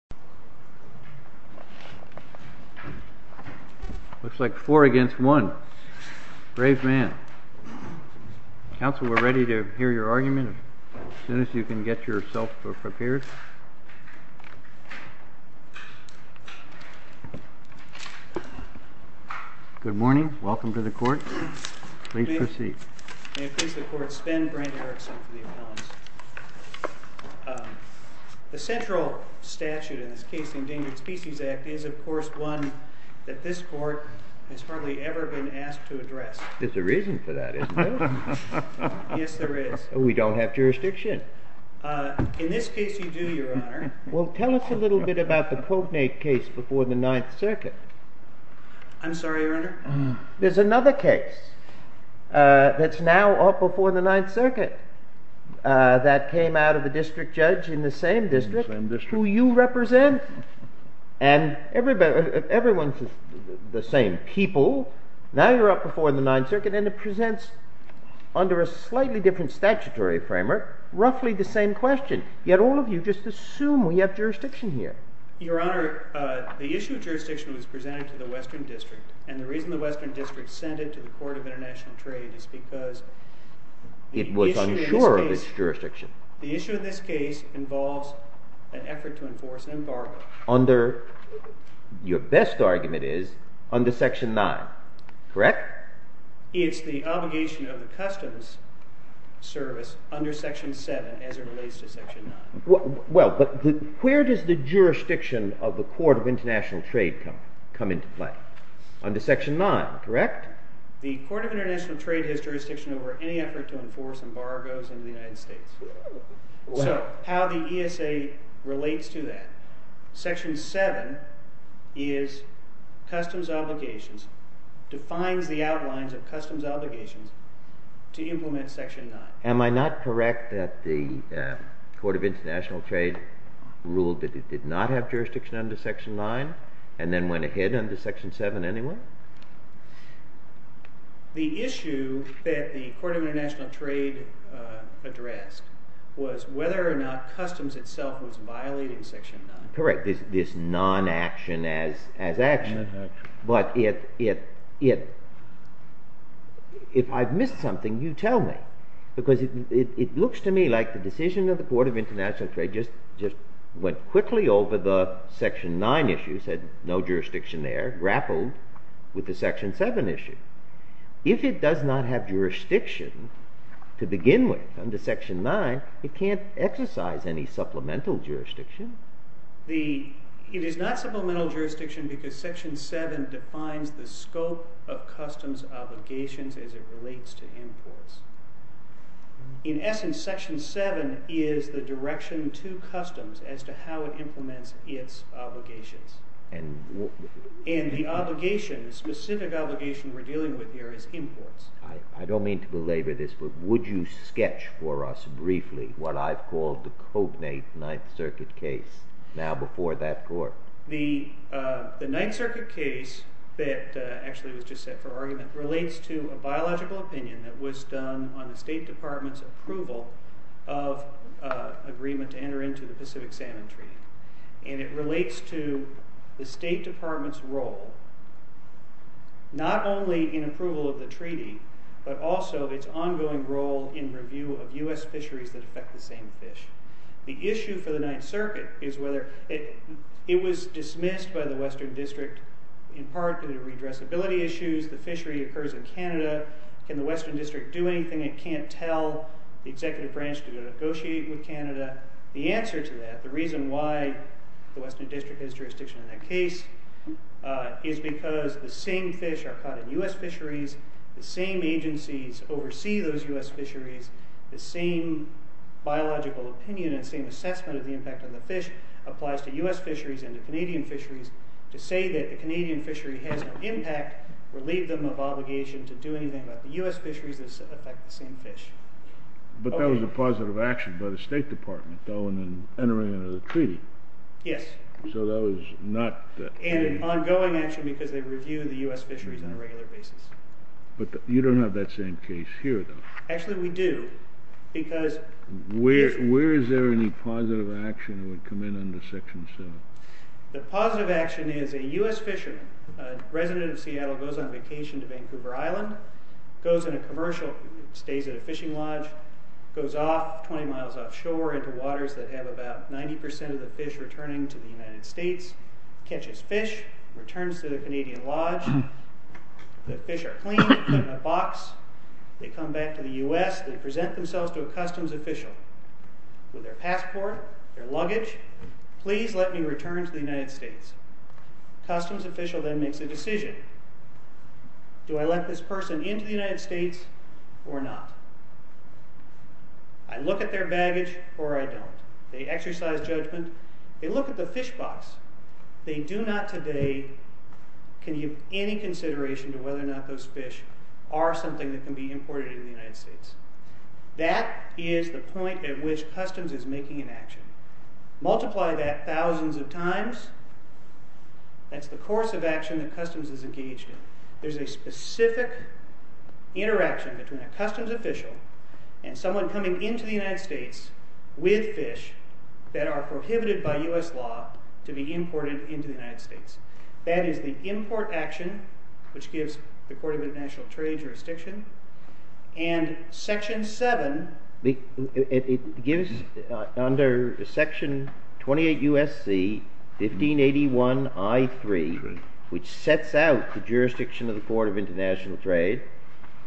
4-1. Grant Erickson, Attorney for the Appeal of the U.S. Supreme Court It looks like four against one. Brave man. Counsel, we're ready to hear your argument as soon as you can get yourself prepared. Good morning. Welcome to the Court. Please proceed. The central statute in this case, the Endangered Species Act, is, of course, one that this Court has hardly ever been asked to address. There's a reason for that, isn't there? Yes, there is. We don't have jurisdiction. In this case, you do, Your Honor. Well, tell us a little bit about the Cognate case before the Ninth Circuit. I'm sorry, Your Honor? There's another case that's now up before the Ninth Circuit that came out of a district judge in the same district who you represent. And everyone's the same people. Now you're up before the Ninth Circuit, and it presents, under a slightly different statutory framework, roughly the same question. Yet all of you just assume we have jurisdiction here. Your Honor, the issue of jurisdiction was presented to the Western District, and the reason the Western District sent it to the Court of International Trade is because the issue of this case involves an effort to enforce an embargo. Your best argument is under Section 9, correct? It's the obligation of the Customs Service under Section 7, as it relates to Section 9. Well, but where does the jurisdiction of the Court of International Trade come into play? Under Section 9, correct? The Court of International Trade has jurisdiction over any effort to enforce embargoes in the United States. So how the ESA relates to that? Section 7 is Customs Obligations, defines the outlines of Customs Obligations to implement Section 9. Am I not correct that the Court of International Trade ruled that it did not have jurisdiction under Section 9, and then went ahead under Section 7 anyway? The issue that the Court of International Trade addressed was whether or not Customs itself was violating Section 9. Correct. This non-action as action. But if I've missed something, you tell me. Because it looks to me like the decision of the Court of International Trade just went quickly over the Section 9 issue, said no jurisdiction there, grappled with the Section 7 issue. If it does not have jurisdiction to begin with under Section 9, it can't exercise any supplemental jurisdiction. It is not supplemental jurisdiction because Section 7 defines the scope of Customs Obligations as it relates to imports. In essence, Section 7 is the direction to Customs as to how it implements its obligations. And the specific obligation we're dealing with here is imports. I don't mean to belabor this, but would you sketch for us briefly what I've called the case now before that Court? The Ninth Circuit case that actually was just set for argument relates to a biological opinion that was done on the State Department's approval of agreement to enter into the Pacific Salmon Treaty. And it relates to the State Department's role, not only in approval of the treaty, but also its ongoing role in review of U.S. fisheries that affect the same fish. The issue for the Ninth Circuit is whether it was dismissed by the Western District in part due to redressability issues. The fishery occurs in Canada. Can the Western District do anything it can't tell the Executive Branch to negotiate with Canada? The answer to that, the reason why the Western District has jurisdiction in that case, is because the same fish are caught in U.S. fisheries, the same agencies oversee those U.S. fisheries, the same biological opinion and same assessment of the impact on the fish applies to U.S. fisheries and to Canadian fisheries. To say that a Canadian fishery has no impact would leave them of obligation to do anything about the U.S. fisheries that affect the same fish. But that was a positive action by the State Department, though, in entering into the treaty. Yes. So that was not the... And an ongoing action because they review the U.S. fisheries on a regular basis. But you don't have that same case here, though. Actually, we do because... Where is there any positive action that would come in under Section 7? The positive action is a U.S. fisherman, a resident of Seattle, goes on vacation to Vancouver Island, goes in a commercial, stays at a fishing lodge, goes off 20 miles offshore into waters that have about 90% of the fish returning to the United States, catches fish, returns to the Canadian lodge, the fish are cleaned, put in a box, they come back to the U.S., they present themselves to a customs official with their passport, their luggage, please let me return to the United States. Customs official then makes a decision. Do I let this person into the United States or not? I look at their baggage or I don't. They exercise judgment. They look at the fish box. They do not today can give any consideration to whether or not those fish are something that can be imported into the United States. That is the point at which customs is making an action. Multiply that thousands of times. That's the course of action that customs is engaged in. There's a specific interaction between a customs official and someone coming into the United States with fish that are prohibited by U.S. law to be imported into the United States. That is the import action, which gives the Court of International Trade jurisdiction. And Section 7, it gives under Section 28 U.S.C. 1581 I.3, which sets out the jurisdiction of the Court of International Trade.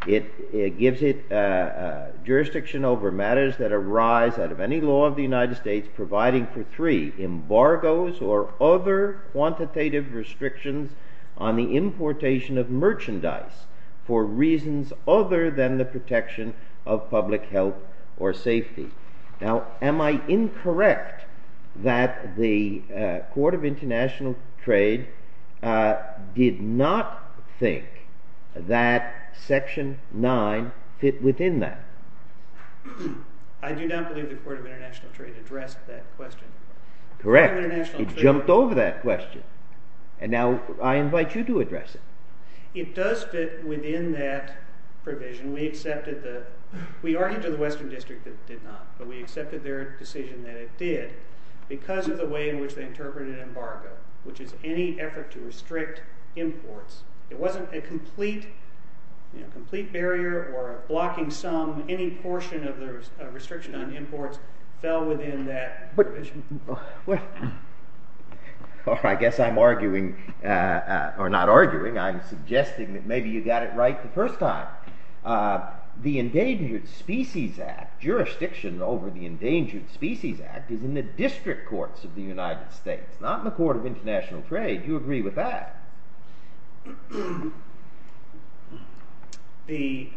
It gives it jurisdiction over matters that arise out of any law of the United States providing for three, embargoes or other quantitative restrictions on the importation of merchandise for reasons other than the protection of public health or safety. Now, am I incorrect that the Court of International Trade did not think that Section 9 fit within that? I do not believe the Court of International Trade addressed that question. Correct. It jumped over that question. And now I invite you to address it. It does fit within that provision. We argued to the Western District that it did not, but we accepted their decision that it did because of the way in which they interpreted embargo, which is any effort to restrict imports. It wasn't a complete barrier or a blocking sum. Any portion of the restriction on imports fell within that provision. Well, I guess I'm arguing, or not arguing, I'm suggesting that maybe you got it right the first time. The Endangered Species Act, jurisdiction over the Endangered Species Act, is in the district courts of the United States, not in the Court of International Trade. Do you agree with that? The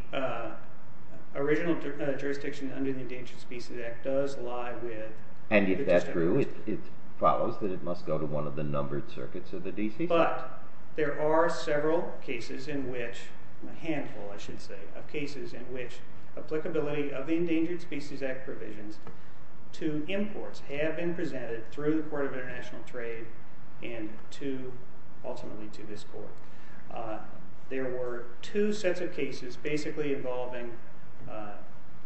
original jurisdiction under the Endangered Species Act does lie with the district courts. And if that's true, it follows that it must go to one of the numbered circuits of the D.C. But there are several cases in which, a handful, I should say, of cases in which applicability of the Endangered Species Act provisions to imports have been presented through the Court of International Trade and ultimately to this court. There were two sets of cases basically involving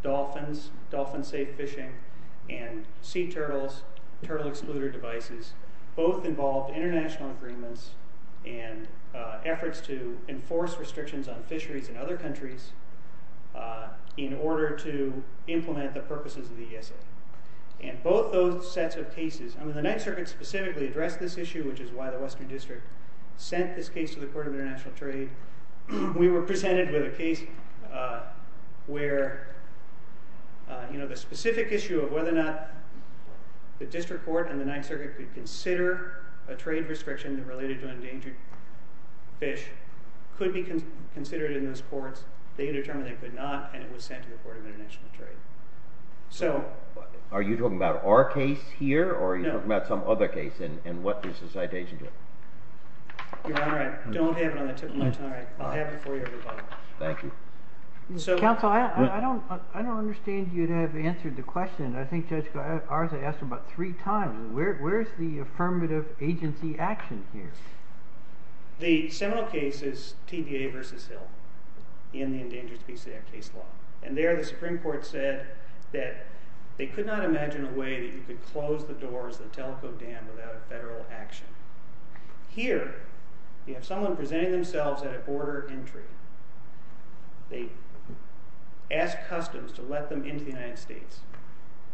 dolphins, dolphin safe fishing, and sea turtles, turtle excluder devices. Both involved international agreements and efforts to enforce restrictions on fisheries in other countries in order to implement the purposes of the ESA. And both those sets of cases, and the Ninth Circuit specifically addressed this issue, which is why the Western District sent this case to the Court of International Trade. We were presented with a case where the specific issue of whether or not the district court and the Ninth Circuit could consider a trade restriction related to endangered fish could be considered in those courts. They determined they could not, and it was sent to the Court of International Trade. Are you talking about our case here? No. Or are you talking about some other case? And what does the citation do? Your Honor, I don't have it on the tip of my tongue. I'll have it for you. Thank you. Counsel, I don't understand you to have answered the question. I think Judge Garza asked it about three times. Where is the affirmative agency action here? The seminal case is TVA v. Hill in the Endangered Species Act case law. And there the Supreme Court said that they could not imagine a way that you could close the doors of the teleco dam without a federal action. Here, you have someone presenting themselves at a border entry. They ask customs to let them into the United States.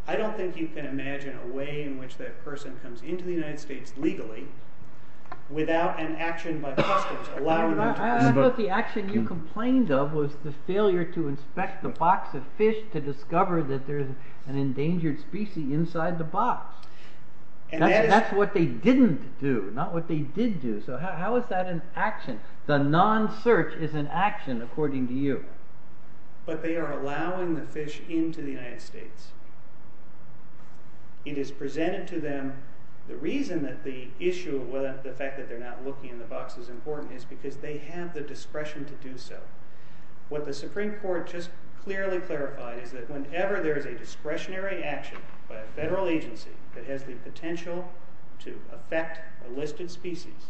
I don't think you can imagine a way in which that person comes into the United States legally without an action by customs allowing them to. I thought the action you complained of was the failure to inspect the box of fish to discover that there is an endangered species inside the box. That's what they didn't do, not what they did do. So how is that an action? The non-search is an action, according to you. But they are allowing the fish into the United States. It is presented to them. The reason that the issue of the fact that they're not looking in the box is important is because they have the discretion to do so. What the Supreme Court just clearly clarified is that whenever there is a discretionary action by a federal agency that has the potential to affect a listed species,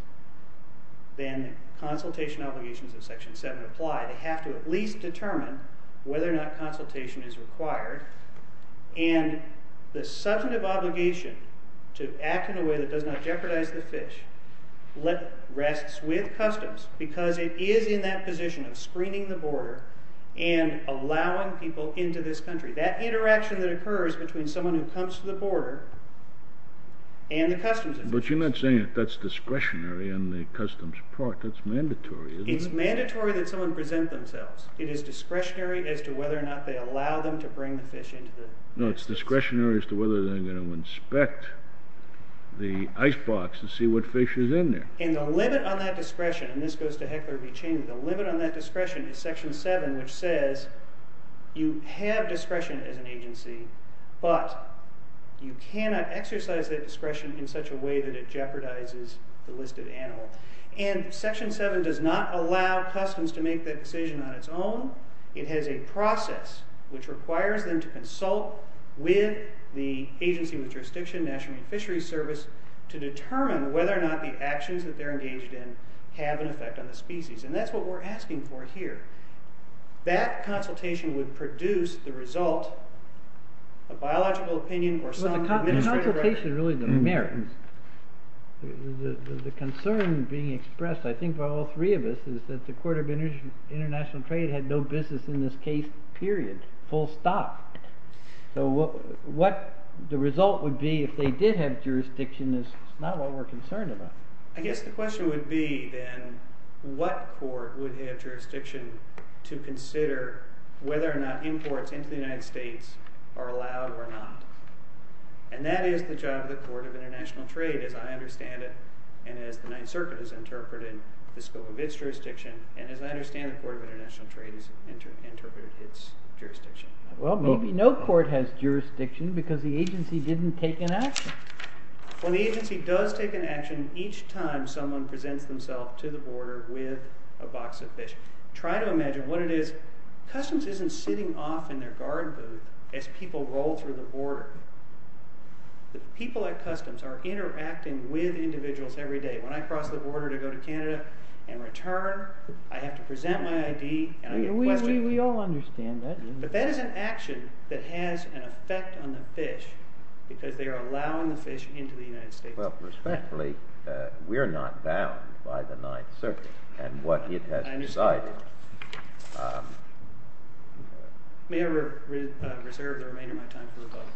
then consultation obligations of Section 7 apply. They have to at least determine whether or not consultation is required. And the substantive obligation to act in a way that does not jeopardize the fish rests with customs, because it is in that position of screening the border and allowing people into this country. That interaction that occurs between someone who comes to the border and the customs agency. But you're not saying that that's discretionary on the customs part. That's mandatory, isn't it? It's mandatory that someone present themselves. It is discretionary as to whether or not they allow them to bring the fish into the United States. No, it's discretionary as to whether they're going to inspect the icebox to see what fish is in there. And the limit on that discretion, and this goes to Heckler v. Chain, the limit on that discretion is Section 7, which says you have discretion as an agency, but you cannot exercise that discretion in such a way that it jeopardizes the listed animal. And Section 7 does not allow customs to make that decision on its own. It has a process which requires them to consult with the agency with jurisdiction, National Marine Fisheries Service, to determine whether or not the actions that they're engaged in have an effect on the species. And that's what we're asking for here. That consultation would produce the result, a biological opinion or some administrative record. The consultation really doesn't matter. The concern being expressed, I think, by all three of us is that the Court of International Trade had no business in this case, period, full stop. So what the result would be if they did have jurisdiction is not what we're concerned about. I guess the question would be, then, what court would have jurisdiction to consider whether or not imports into the United States are allowed or not? And that is the job of the Court of International Trade, as I understand it, and as the Ninth Circuit has interpreted the scope of its jurisdiction, and as I understand the Court of International Trade has interpreted its jurisdiction. Well, maybe no court has jurisdiction because the agency didn't take an action. Well, the agency does take an action each time someone presents themselves to the border with a box of fish. Try to imagine what it is. Customs isn't sitting off in their guard booth as people roll through the border. The people at Customs are interacting with individuals every day. When I cross the border to go to Canada and return, I have to present my ID and I get questioned. We all understand that. But that is an action that has an effect on the fish because they are allowing the fish into the United States. Well, respectfully, we're not bound by the Ninth Circuit and what it has decided. May I reserve the remainder of my time for rebuttal?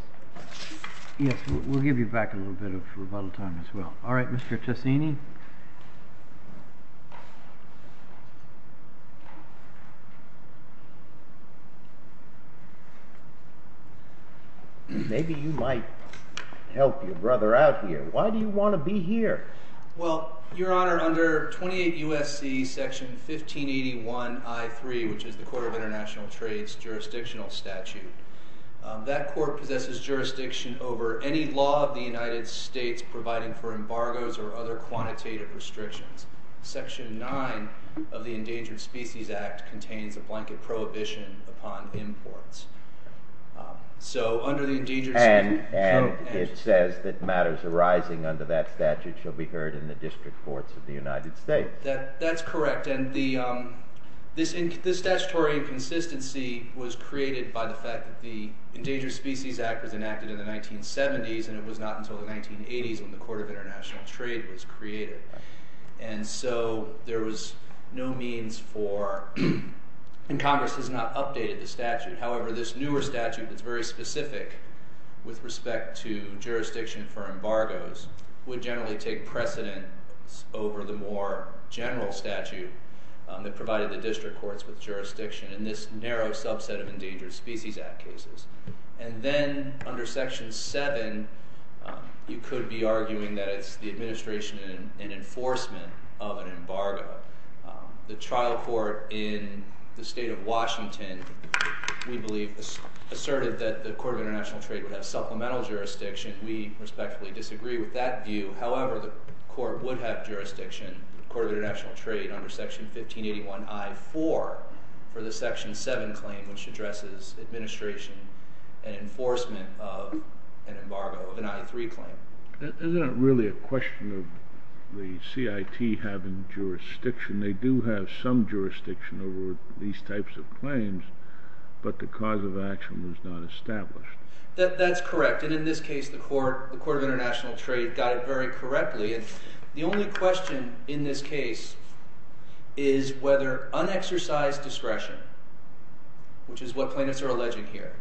Yes, we'll give you back a little bit of rebuttal time as well. All right, Mr. Tessini. Maybe you might help your brother out here. Why do you want to be here? Well, Your Honor, under 28 U.S.C. Section 1581 I.3, which is the Court of International Trade's jurisdictional statute, that court possesses jurisdiction over any law of the United States providing for embargoes or other quantitative restrictions. Section 9 of the Endangered Species Act contains a blanket prohibition upon imports. And it says that matters arising under that statute shall be heard in the district courts of the United States. That's correct. And this statutory inconsistency was created by the fact that the Endangered Species Act was enacted in the 1970s and it was not until the 1980s when the Court of International Trade was created. And so there was no means for—and Congress has not updated the statute. However, this newer statute that's very specific with respect to jurisdiction for embargoes would generally take precedence over the more general statute that provided the district courts with jurisdiction in this narrow subset of Endangered Species Act cases. And then under Section 7, you could be arguing that it's the administration in enforcement of an embargo. The trial court in the state of Washington, we believe, asserted that the Court of International Trade would have supplemental jurisdiction. We respectfully disagree with that view. However, the court would have jurisdiction, the Court of International Trade, under Section 1581 I.4, for the Section 7 claim, which addresses administration and enforcement of an embargo, of an I.3 claim. Isn't it really a question of the CIT having jurisdiction? They do have some jurisdiction over these types of claims, but the cause of action was not established. That's correct. And in this case, the Court of International Trade got it very correctly. The only question in this case is whether unexercised discretion, which is what plaintiffs are alleging here,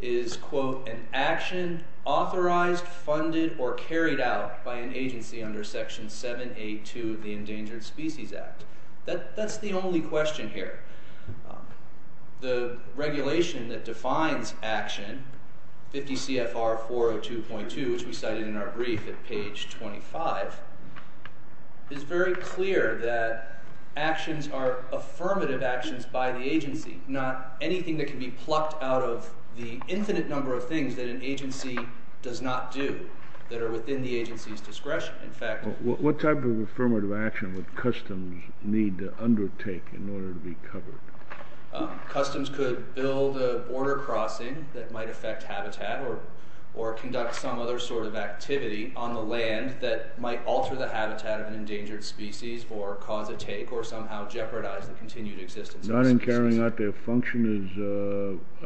is, quote, an action authorized, funded, or carried out by an agency under Section 782 of the Endangered Species Act. That's the only question here. The regulation that defines action, 50 CFR 402.2, which we cited in our brief at page 25, is very clear that actions are affirmative actions by the agency, not anything that can be plucked out of the infinite number of things that an agency does not do that are within the agency's discretion. What type of affirmative action would customs need to undertake in order to be covered? Customs could build a border crossing that might affect habitat or conduct some other sort of activity on the land that might alter the habitat of an endangered species or cause a take or somehow jeopardize the continued existence of the species. Not in carrying out their function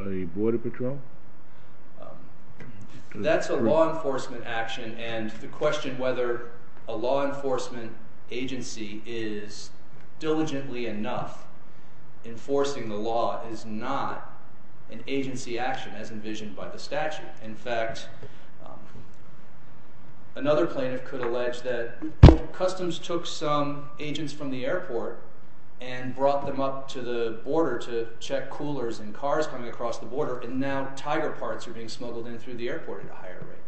as a border patrol? That's a law enforcement action, and the question whether a law enforcement agency is diligently enough enforcing the law is not an agency action as envisioned by the statute. In fact, another plaintiff could allege that customs took some agents from the airport and brought them up to the border to check coolers and cars coming across the border and now tiger parts are being smuggled in through the airport at a higher rate.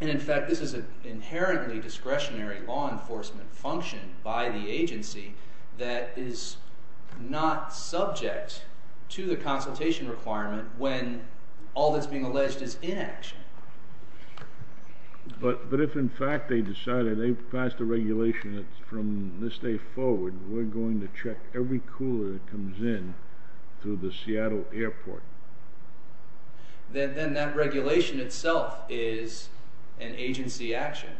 And in fact, this is an inherently discretionary law enforcement function by the agency that is not subject to the consultation requirement when all that's being alleged is inaction. But if in fact they decided they passed a regulation that from this day forward we're going to check every cooler that comes in through the Seattle airport. Then that regulation itself is an agency action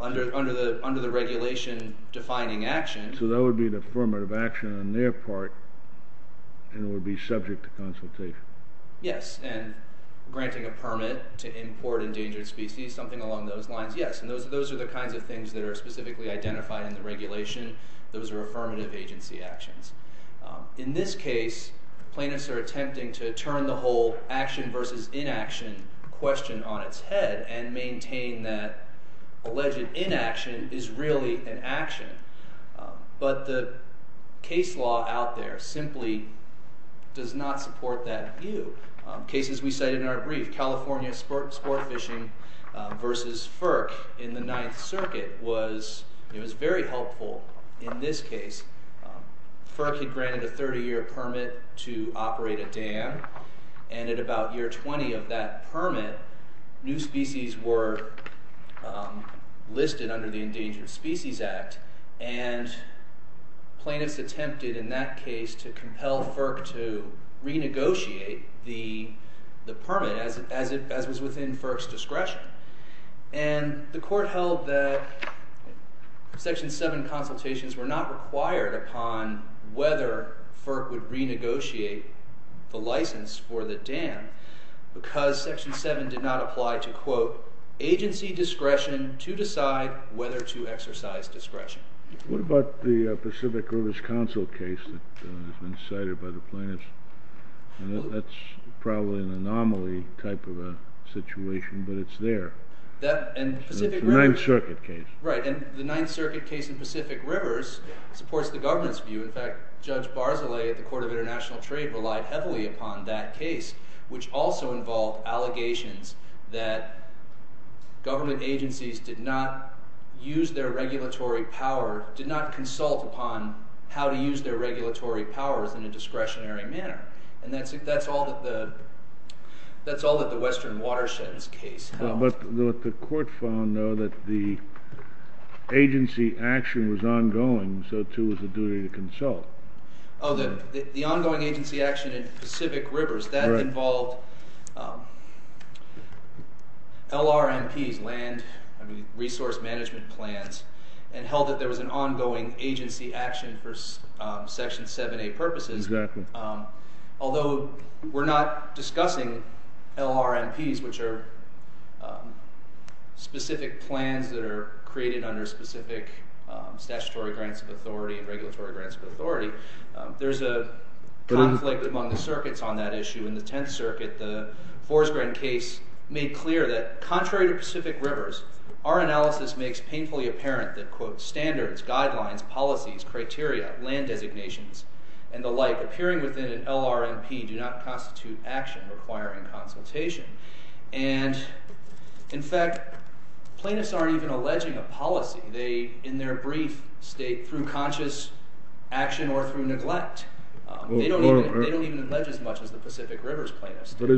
under the regulation defining action. So that would be the affirmative action on their part, and it would be subject to consultation. Yes, and granting a permit to import endangered species, something along those lines, yes. And those are the kinds of things that are specifically identified in the regulation. Those are affirmative agency actions. In this case, plaintiffs are attempting to turn the whole action versus inaction question on its head and maintain that alleged inaction is really an action. But the case law out there simply does not support that view. Cases we cited in our brief, California sport fishing versus FERC in the Ninth Circuit, it was very helpful in this case. FERC had granted a 30-year permit to operate a dam. And at about year 20 of that permit, new species were listed under the Endangered Species Act. And plaintiffs attempted in that case to compel FERC to renegotiate the permit as it was within FERC's discretion. And the court held that Section 7 consultations were not required upon whether FERC would renegotiate the license for the dam because Section 7 did not apply to, quote, agency discretion to decide whether to exercise discretion. What about the Pacific Rivers Council case that has been cited by the plaintiffs? That's probably an anomaly type of a situation, but it's there. The Ninth Circuit case. Right, and the Ninth Circuit case in Pacific Rivers supports the government's view. In fact, Judge Barzilay at the Court of International Trade relied heavily upon that case, which also involved allegations that government agencies did not use their regulatory power, did not consult upon how to use their regulatory powers in a discretionary manner. And that's all that the Western Watersheds case held. But the court found, though, that the agency action was ongoing, so too was the duty to consult. Oh, the ongoing agency action in Pacific Rivers, that involved LRMPs, land resource management plans, and held that there was an ongoing agency action for Section 7a purposes. Exactly. Although we're not discussing LRMPs, which are specific plans that are created under specific statutory grants of authority and regulatory grants of authority, there's a conflict among the circuits on that issue. In the Tenth Circuit, the Forest Grant case made clear that contrary to Pacific Rivers, our analysis makes painfully apparent that, quote, standards, guidelines, policies, criteria, land designations, and the like appearing within an LRMP do not constitute action requiring consultation. And, in fact, plaintiffs aren't even alleging a policy. They, in their brief, state through conscious action or through neglect. They don't even allege as much as the Pacific Rivers plaintiffs do. But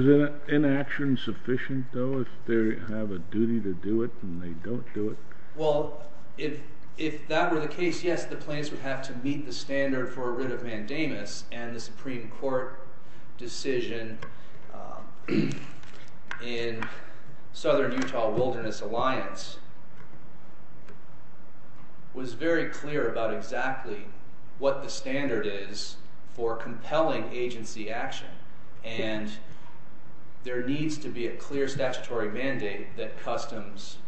is inaction sufficient, though, if they have a duty to do it and they don't do it? Well, if that were the case, yes, the plaintiffs would have to meet the standard for a writ of mandamus, and the Supreme Court decision in Southern Utah Wilderness Alliance was very clear about exactly what the standard is for compelling agency action. And there needs to be a clear statutory mandate that customs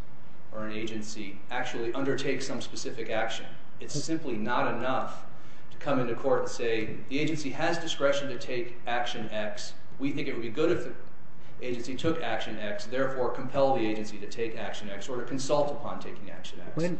or an agency actually undertake some specific action. It's simply not enough to come into court and say, the agency has discretion to take action X. We think it would be good if the agency took action X. Therefore, compel the agency to take action X or to consult upon taking action X. And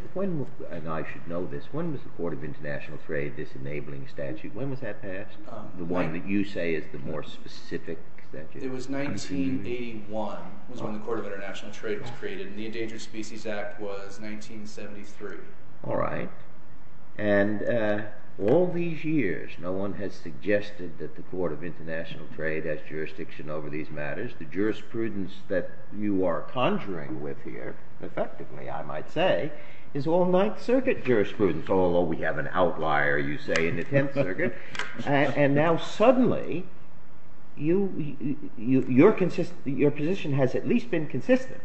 I should know this. When was the Court of International Trade disenabling statute? When was that passed? The one that you say is the more specific statute. It was 1981 was when the Court of International Trade was created. And the Endangered Species Act was 1973. All right. And all these years, no one has suggested that the Court of International Trade has jurisdiction over these matters. The jurisprudence that you are conjuring with here, effectively, I might say, is all Ninth Circuit jurisprudence, although we have an outlier, you say, in the Tenth Circuit. And now, suddenly, your position has at least been consistent.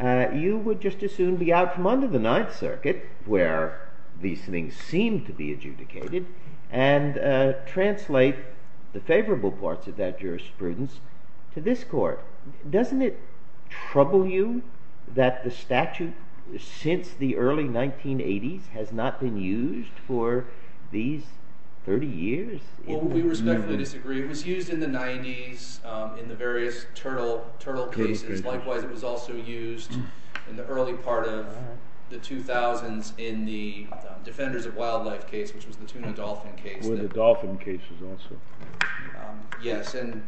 You would just as soon be out from under the Ninth Circuit, where these things seem to be adjudicated, and translate the favorable parts of that jurisprudence to this Court. Doesn't it trouble you that the statute, since the early 1980s, has not been used for these 30 years? Well, we respectfully disagree. It was used in the 90s in the various turtle cases. Likewise, it was also used in the early part of the 2000s in the Defenders of Wildlife case, which was the tuna dolphin case. One of the dolphin cases, also. Yes. And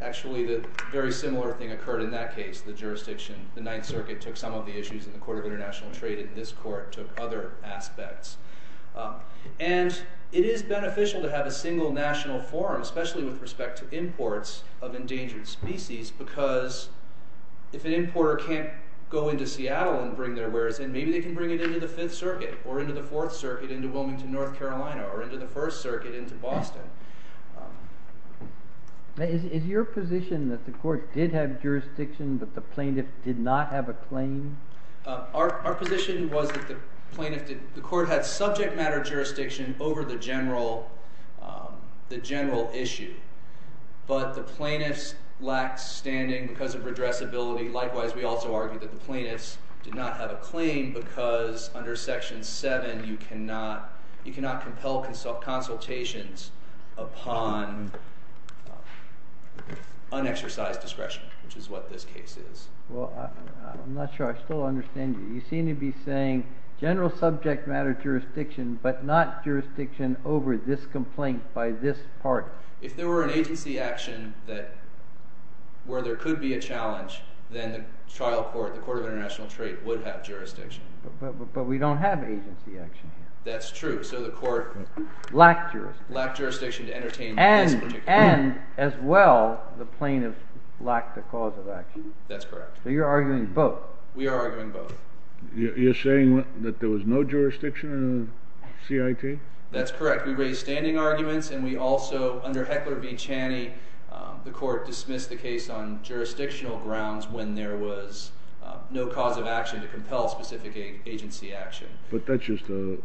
actually, the very similar thing occurred in that case. The jurisdiction, the Ninth Circuit, took some of the issues, and the Court of International Trade in this court took other aspects. And it is beneficial to have a single national forum, especially with respect to imports of endangered species, because if an importer can't go into Seattle and bring their wares in, maybe they can bring it into the Fifth Circuit, or into the Fourth Circuit, into Wilmington, North Carolina, or into the First Circuit, into Boston. Is your position that the court did have jurisdiction, but the plaintiff did not have a claim? Our position was that the court had subject matter jurisdiction over the general issue, but the plaintiffs lacked standing because of redressability. Likewise, we also argue that the plaintiffs did not have a claim because under Section 7, you cannot compel consultations upon unexercised discretion, which is what this case is. Well, I'm not sure I still understand you. You seem to be saying general subject matter jurisdiction, but not jurisdiction over this complaint by this party. If there were an agency action where there could be a challenge, then the trial court, the Court of International Trade, would have jurisdiction. But we don't have agency action here. That's true. So the court lacked jurisdiction to entertain this particular claim. And as well, the plaintiffs lacked the cause of action. That's correct. So you're arguing both? We are arguing both. You're saying that there was no jurisdiction in the CIT? That's correct. We raised standing arguments, and we also, under Heckler v. Chaney, the court dismissed the case on jurisdictional grounds when there was no cause of action to compel specific agency action. But that's just a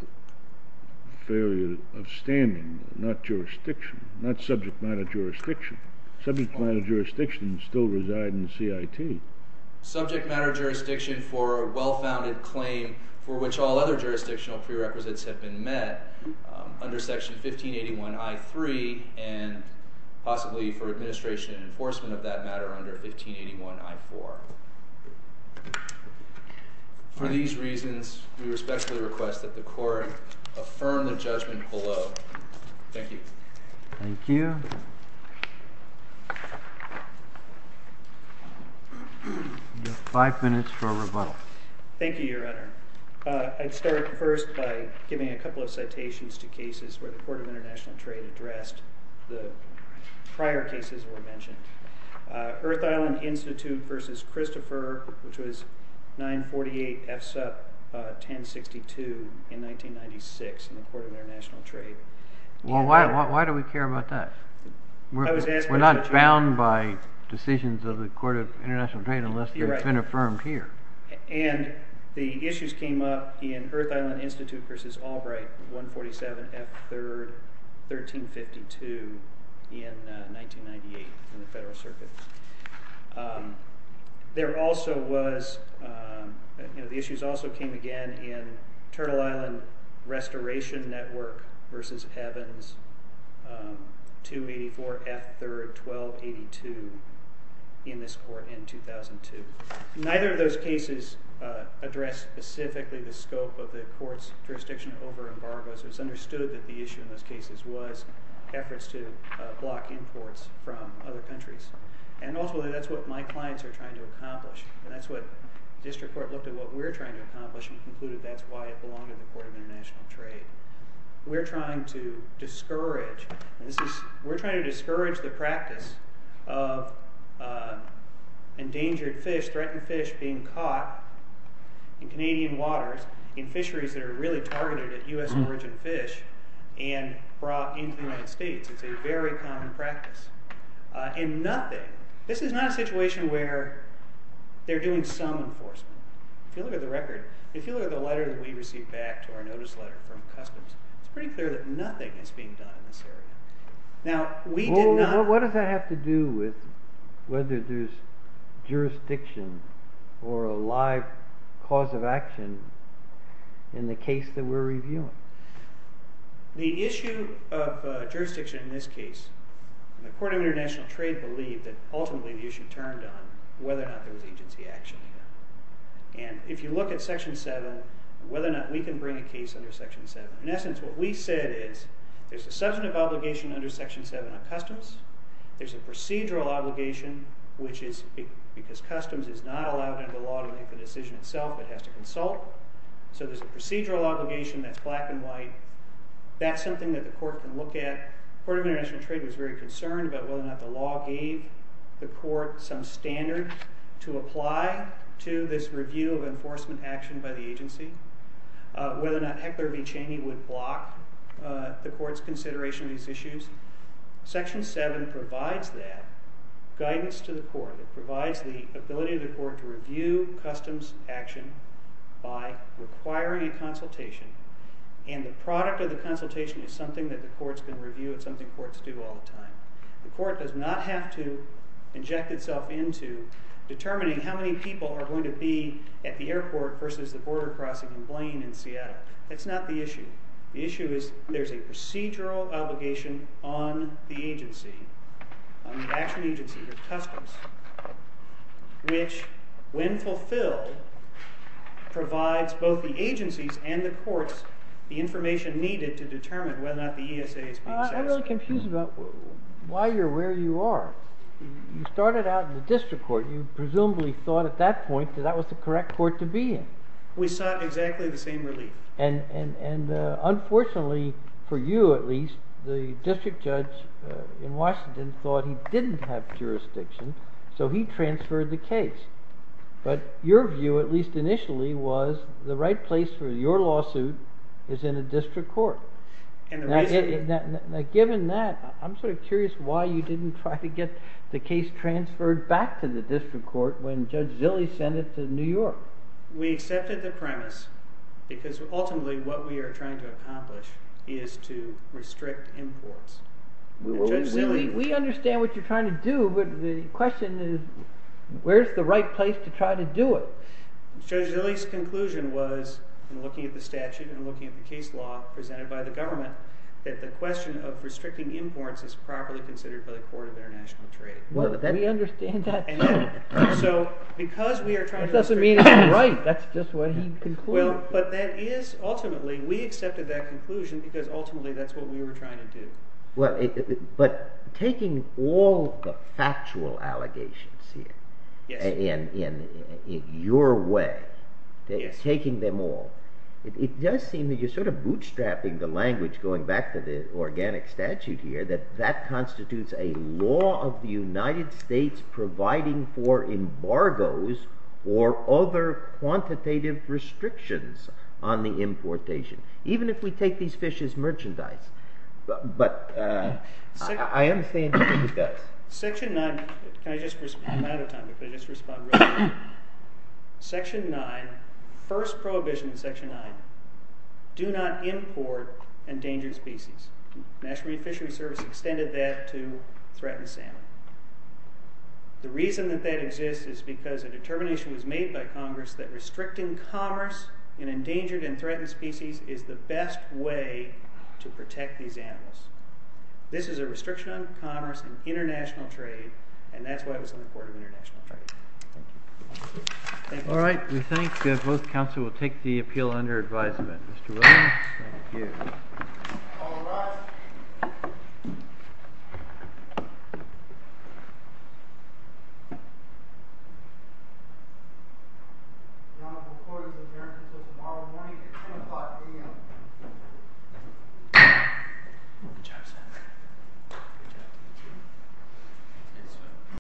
failure of standing, not jurisdiction, not subject matter jurisdiction. Subject matter jurisdiction still resides in CIT. Subject matter jurisdiction for a well-founded claim for which all other jurisdictional prerequisites have been met. Under Section 1581I.3, and possibly for administration and enforcement of that matter under 1581I.4. For these reasons, we respectfully request that the court affirm the judgment below. Thank you. Thank you. You have five minutes for rebuttal. Thank you, Your Honor. I'd start first by giving a couple of citations to cases where the Court of International Trade addressed the prior cases that were mentioned. Earth Island Institute v. Christopher, which was 948 F. Supp. 1062 in 1996 in the Court of International Trade. Well, why do we care about that? We're not bound by decisions of the Court of International Trade unless they've been affirmed here. And the issues came up in Earth Island Institute v. Albright, 147 F. 3rd. 1352 in 1998 in the Federal Circuit. There also was, you know, the issues also came again in Turtle Island Restoration Network v. Evans, 284 F. 3rd. 1282 in this court in 2002. Neither of those cases addressed specifically the scope of the court's jurisdiction over embargoes. It was understood that the issue in those cases was efforts to block imports from other countries. And also that that's what my clients are trying to accomplish. And that's what district court looked at what we're trying to accomplish and concluded that's why it belonged to the Court of International Trade. We're trying to discourage the practice of endangered fish, threatened fish, being caught in Canadian waters in fisheries that are really targeted at U.S. origin fish and brought into the United States. It's a very common practice. And nothing, this is not a situation where they're doing some enforcement. If you look at the record, if you look at the letter that we received back to our notice letter from Customs, it's pretty clear that nothing is being done in this area. Now, we did not... Well, what does that have to do with whether there's jurisdiction or a live cause of action in the case that we're reviewing? The issue of jurisdiction in this case, the Court of International Trade believed that ultimately the issue turned on whether or not there was agency action. And if you look at Section 7, whether or not we can bring a case under Section 7. In essence, what we said is there's a substantive obligation under Section 7 of Customs. There's a procedural obligation, which is because Customs is not allowed under the law to make the decision itself, it has to consult. So there's a procedural obligation that's black and white. That's something that the Court can look at. The Court of International Trade was very concerned about whether or not the law gave the Court some standards to apply to this review of enforcement action by the agency. Whether or not Heckler v. Cheney would block the Court's consideration of these issues. Section 7 provides that guidance to the Court. It provides the ability of the Court to review Customs action by requiring a consultation. And the product of the consultation is something that the Court's going to review. It's something Courts do all the time. The Court does not have to inject itself into determining how many people are going to be at the airport versus the border crossing in Blaine in Seattle. That's not the issue. The issue is there's a procedural obligation on the agency, on the action agency or Customs, which, when fulfilled, provides both the agencies and the Courts the information needed to determine whether or not the ESA is being satisfied. I'm really confused about why you're where you are. You started out in the district court. You presumably thought at that point that that was the correct court to be in. We sought exactly the same relief. Unfortunately, for you at least, the district judge in Washington thought he didn't have jurisdiction, so he transferred the case. But your view, at least initially, was the right place for your lawsuit is in a district court. Given that, I'm sort of curious why you didn't try to get the case transferred back to the district court when Judge Zilley sent it to New York. We accepted the premise because, ultimately, what we are trying to accomplish is to restrict imports. We understand what you're trying to do, but the question is where's the right place to try to do it? Judge Zilley's conclusion was, in looking at the statute and looking at the case law presented by the government, that the question of restricting imports is properly considered by the Court of International Trade. We understand that. That doesn't mean it's right. That's just what he concluded. Ultimately, we accepted that conclusion because, ultimately, that's what we were trying to do. But taking all the factual allegations here in your way, taking them all, it does seem that you're sort of bootstrapping the language, going back to the organic statute here, and saying that that constitutes a law of the United States providing for embargoes or other quantitative restrictions on the importation, even if we take these fish as merchandise. But I understand what he does. Section 9, first prohibition in Section 9, do not import endangered species. The National Reef Fishery Service extended that to threatened salmon. The reason that that exists is because a determination was made by Congress that restricting commerce in endangered and threatened species is the best way to protect these animals. This is a restriction on commerce in international trade, and that's why it was in the Court of International Trade. Thank you. All right. We think that both counsel will take the appeal under advisement. Mr. Williams. Thank you. All rise. Thank you.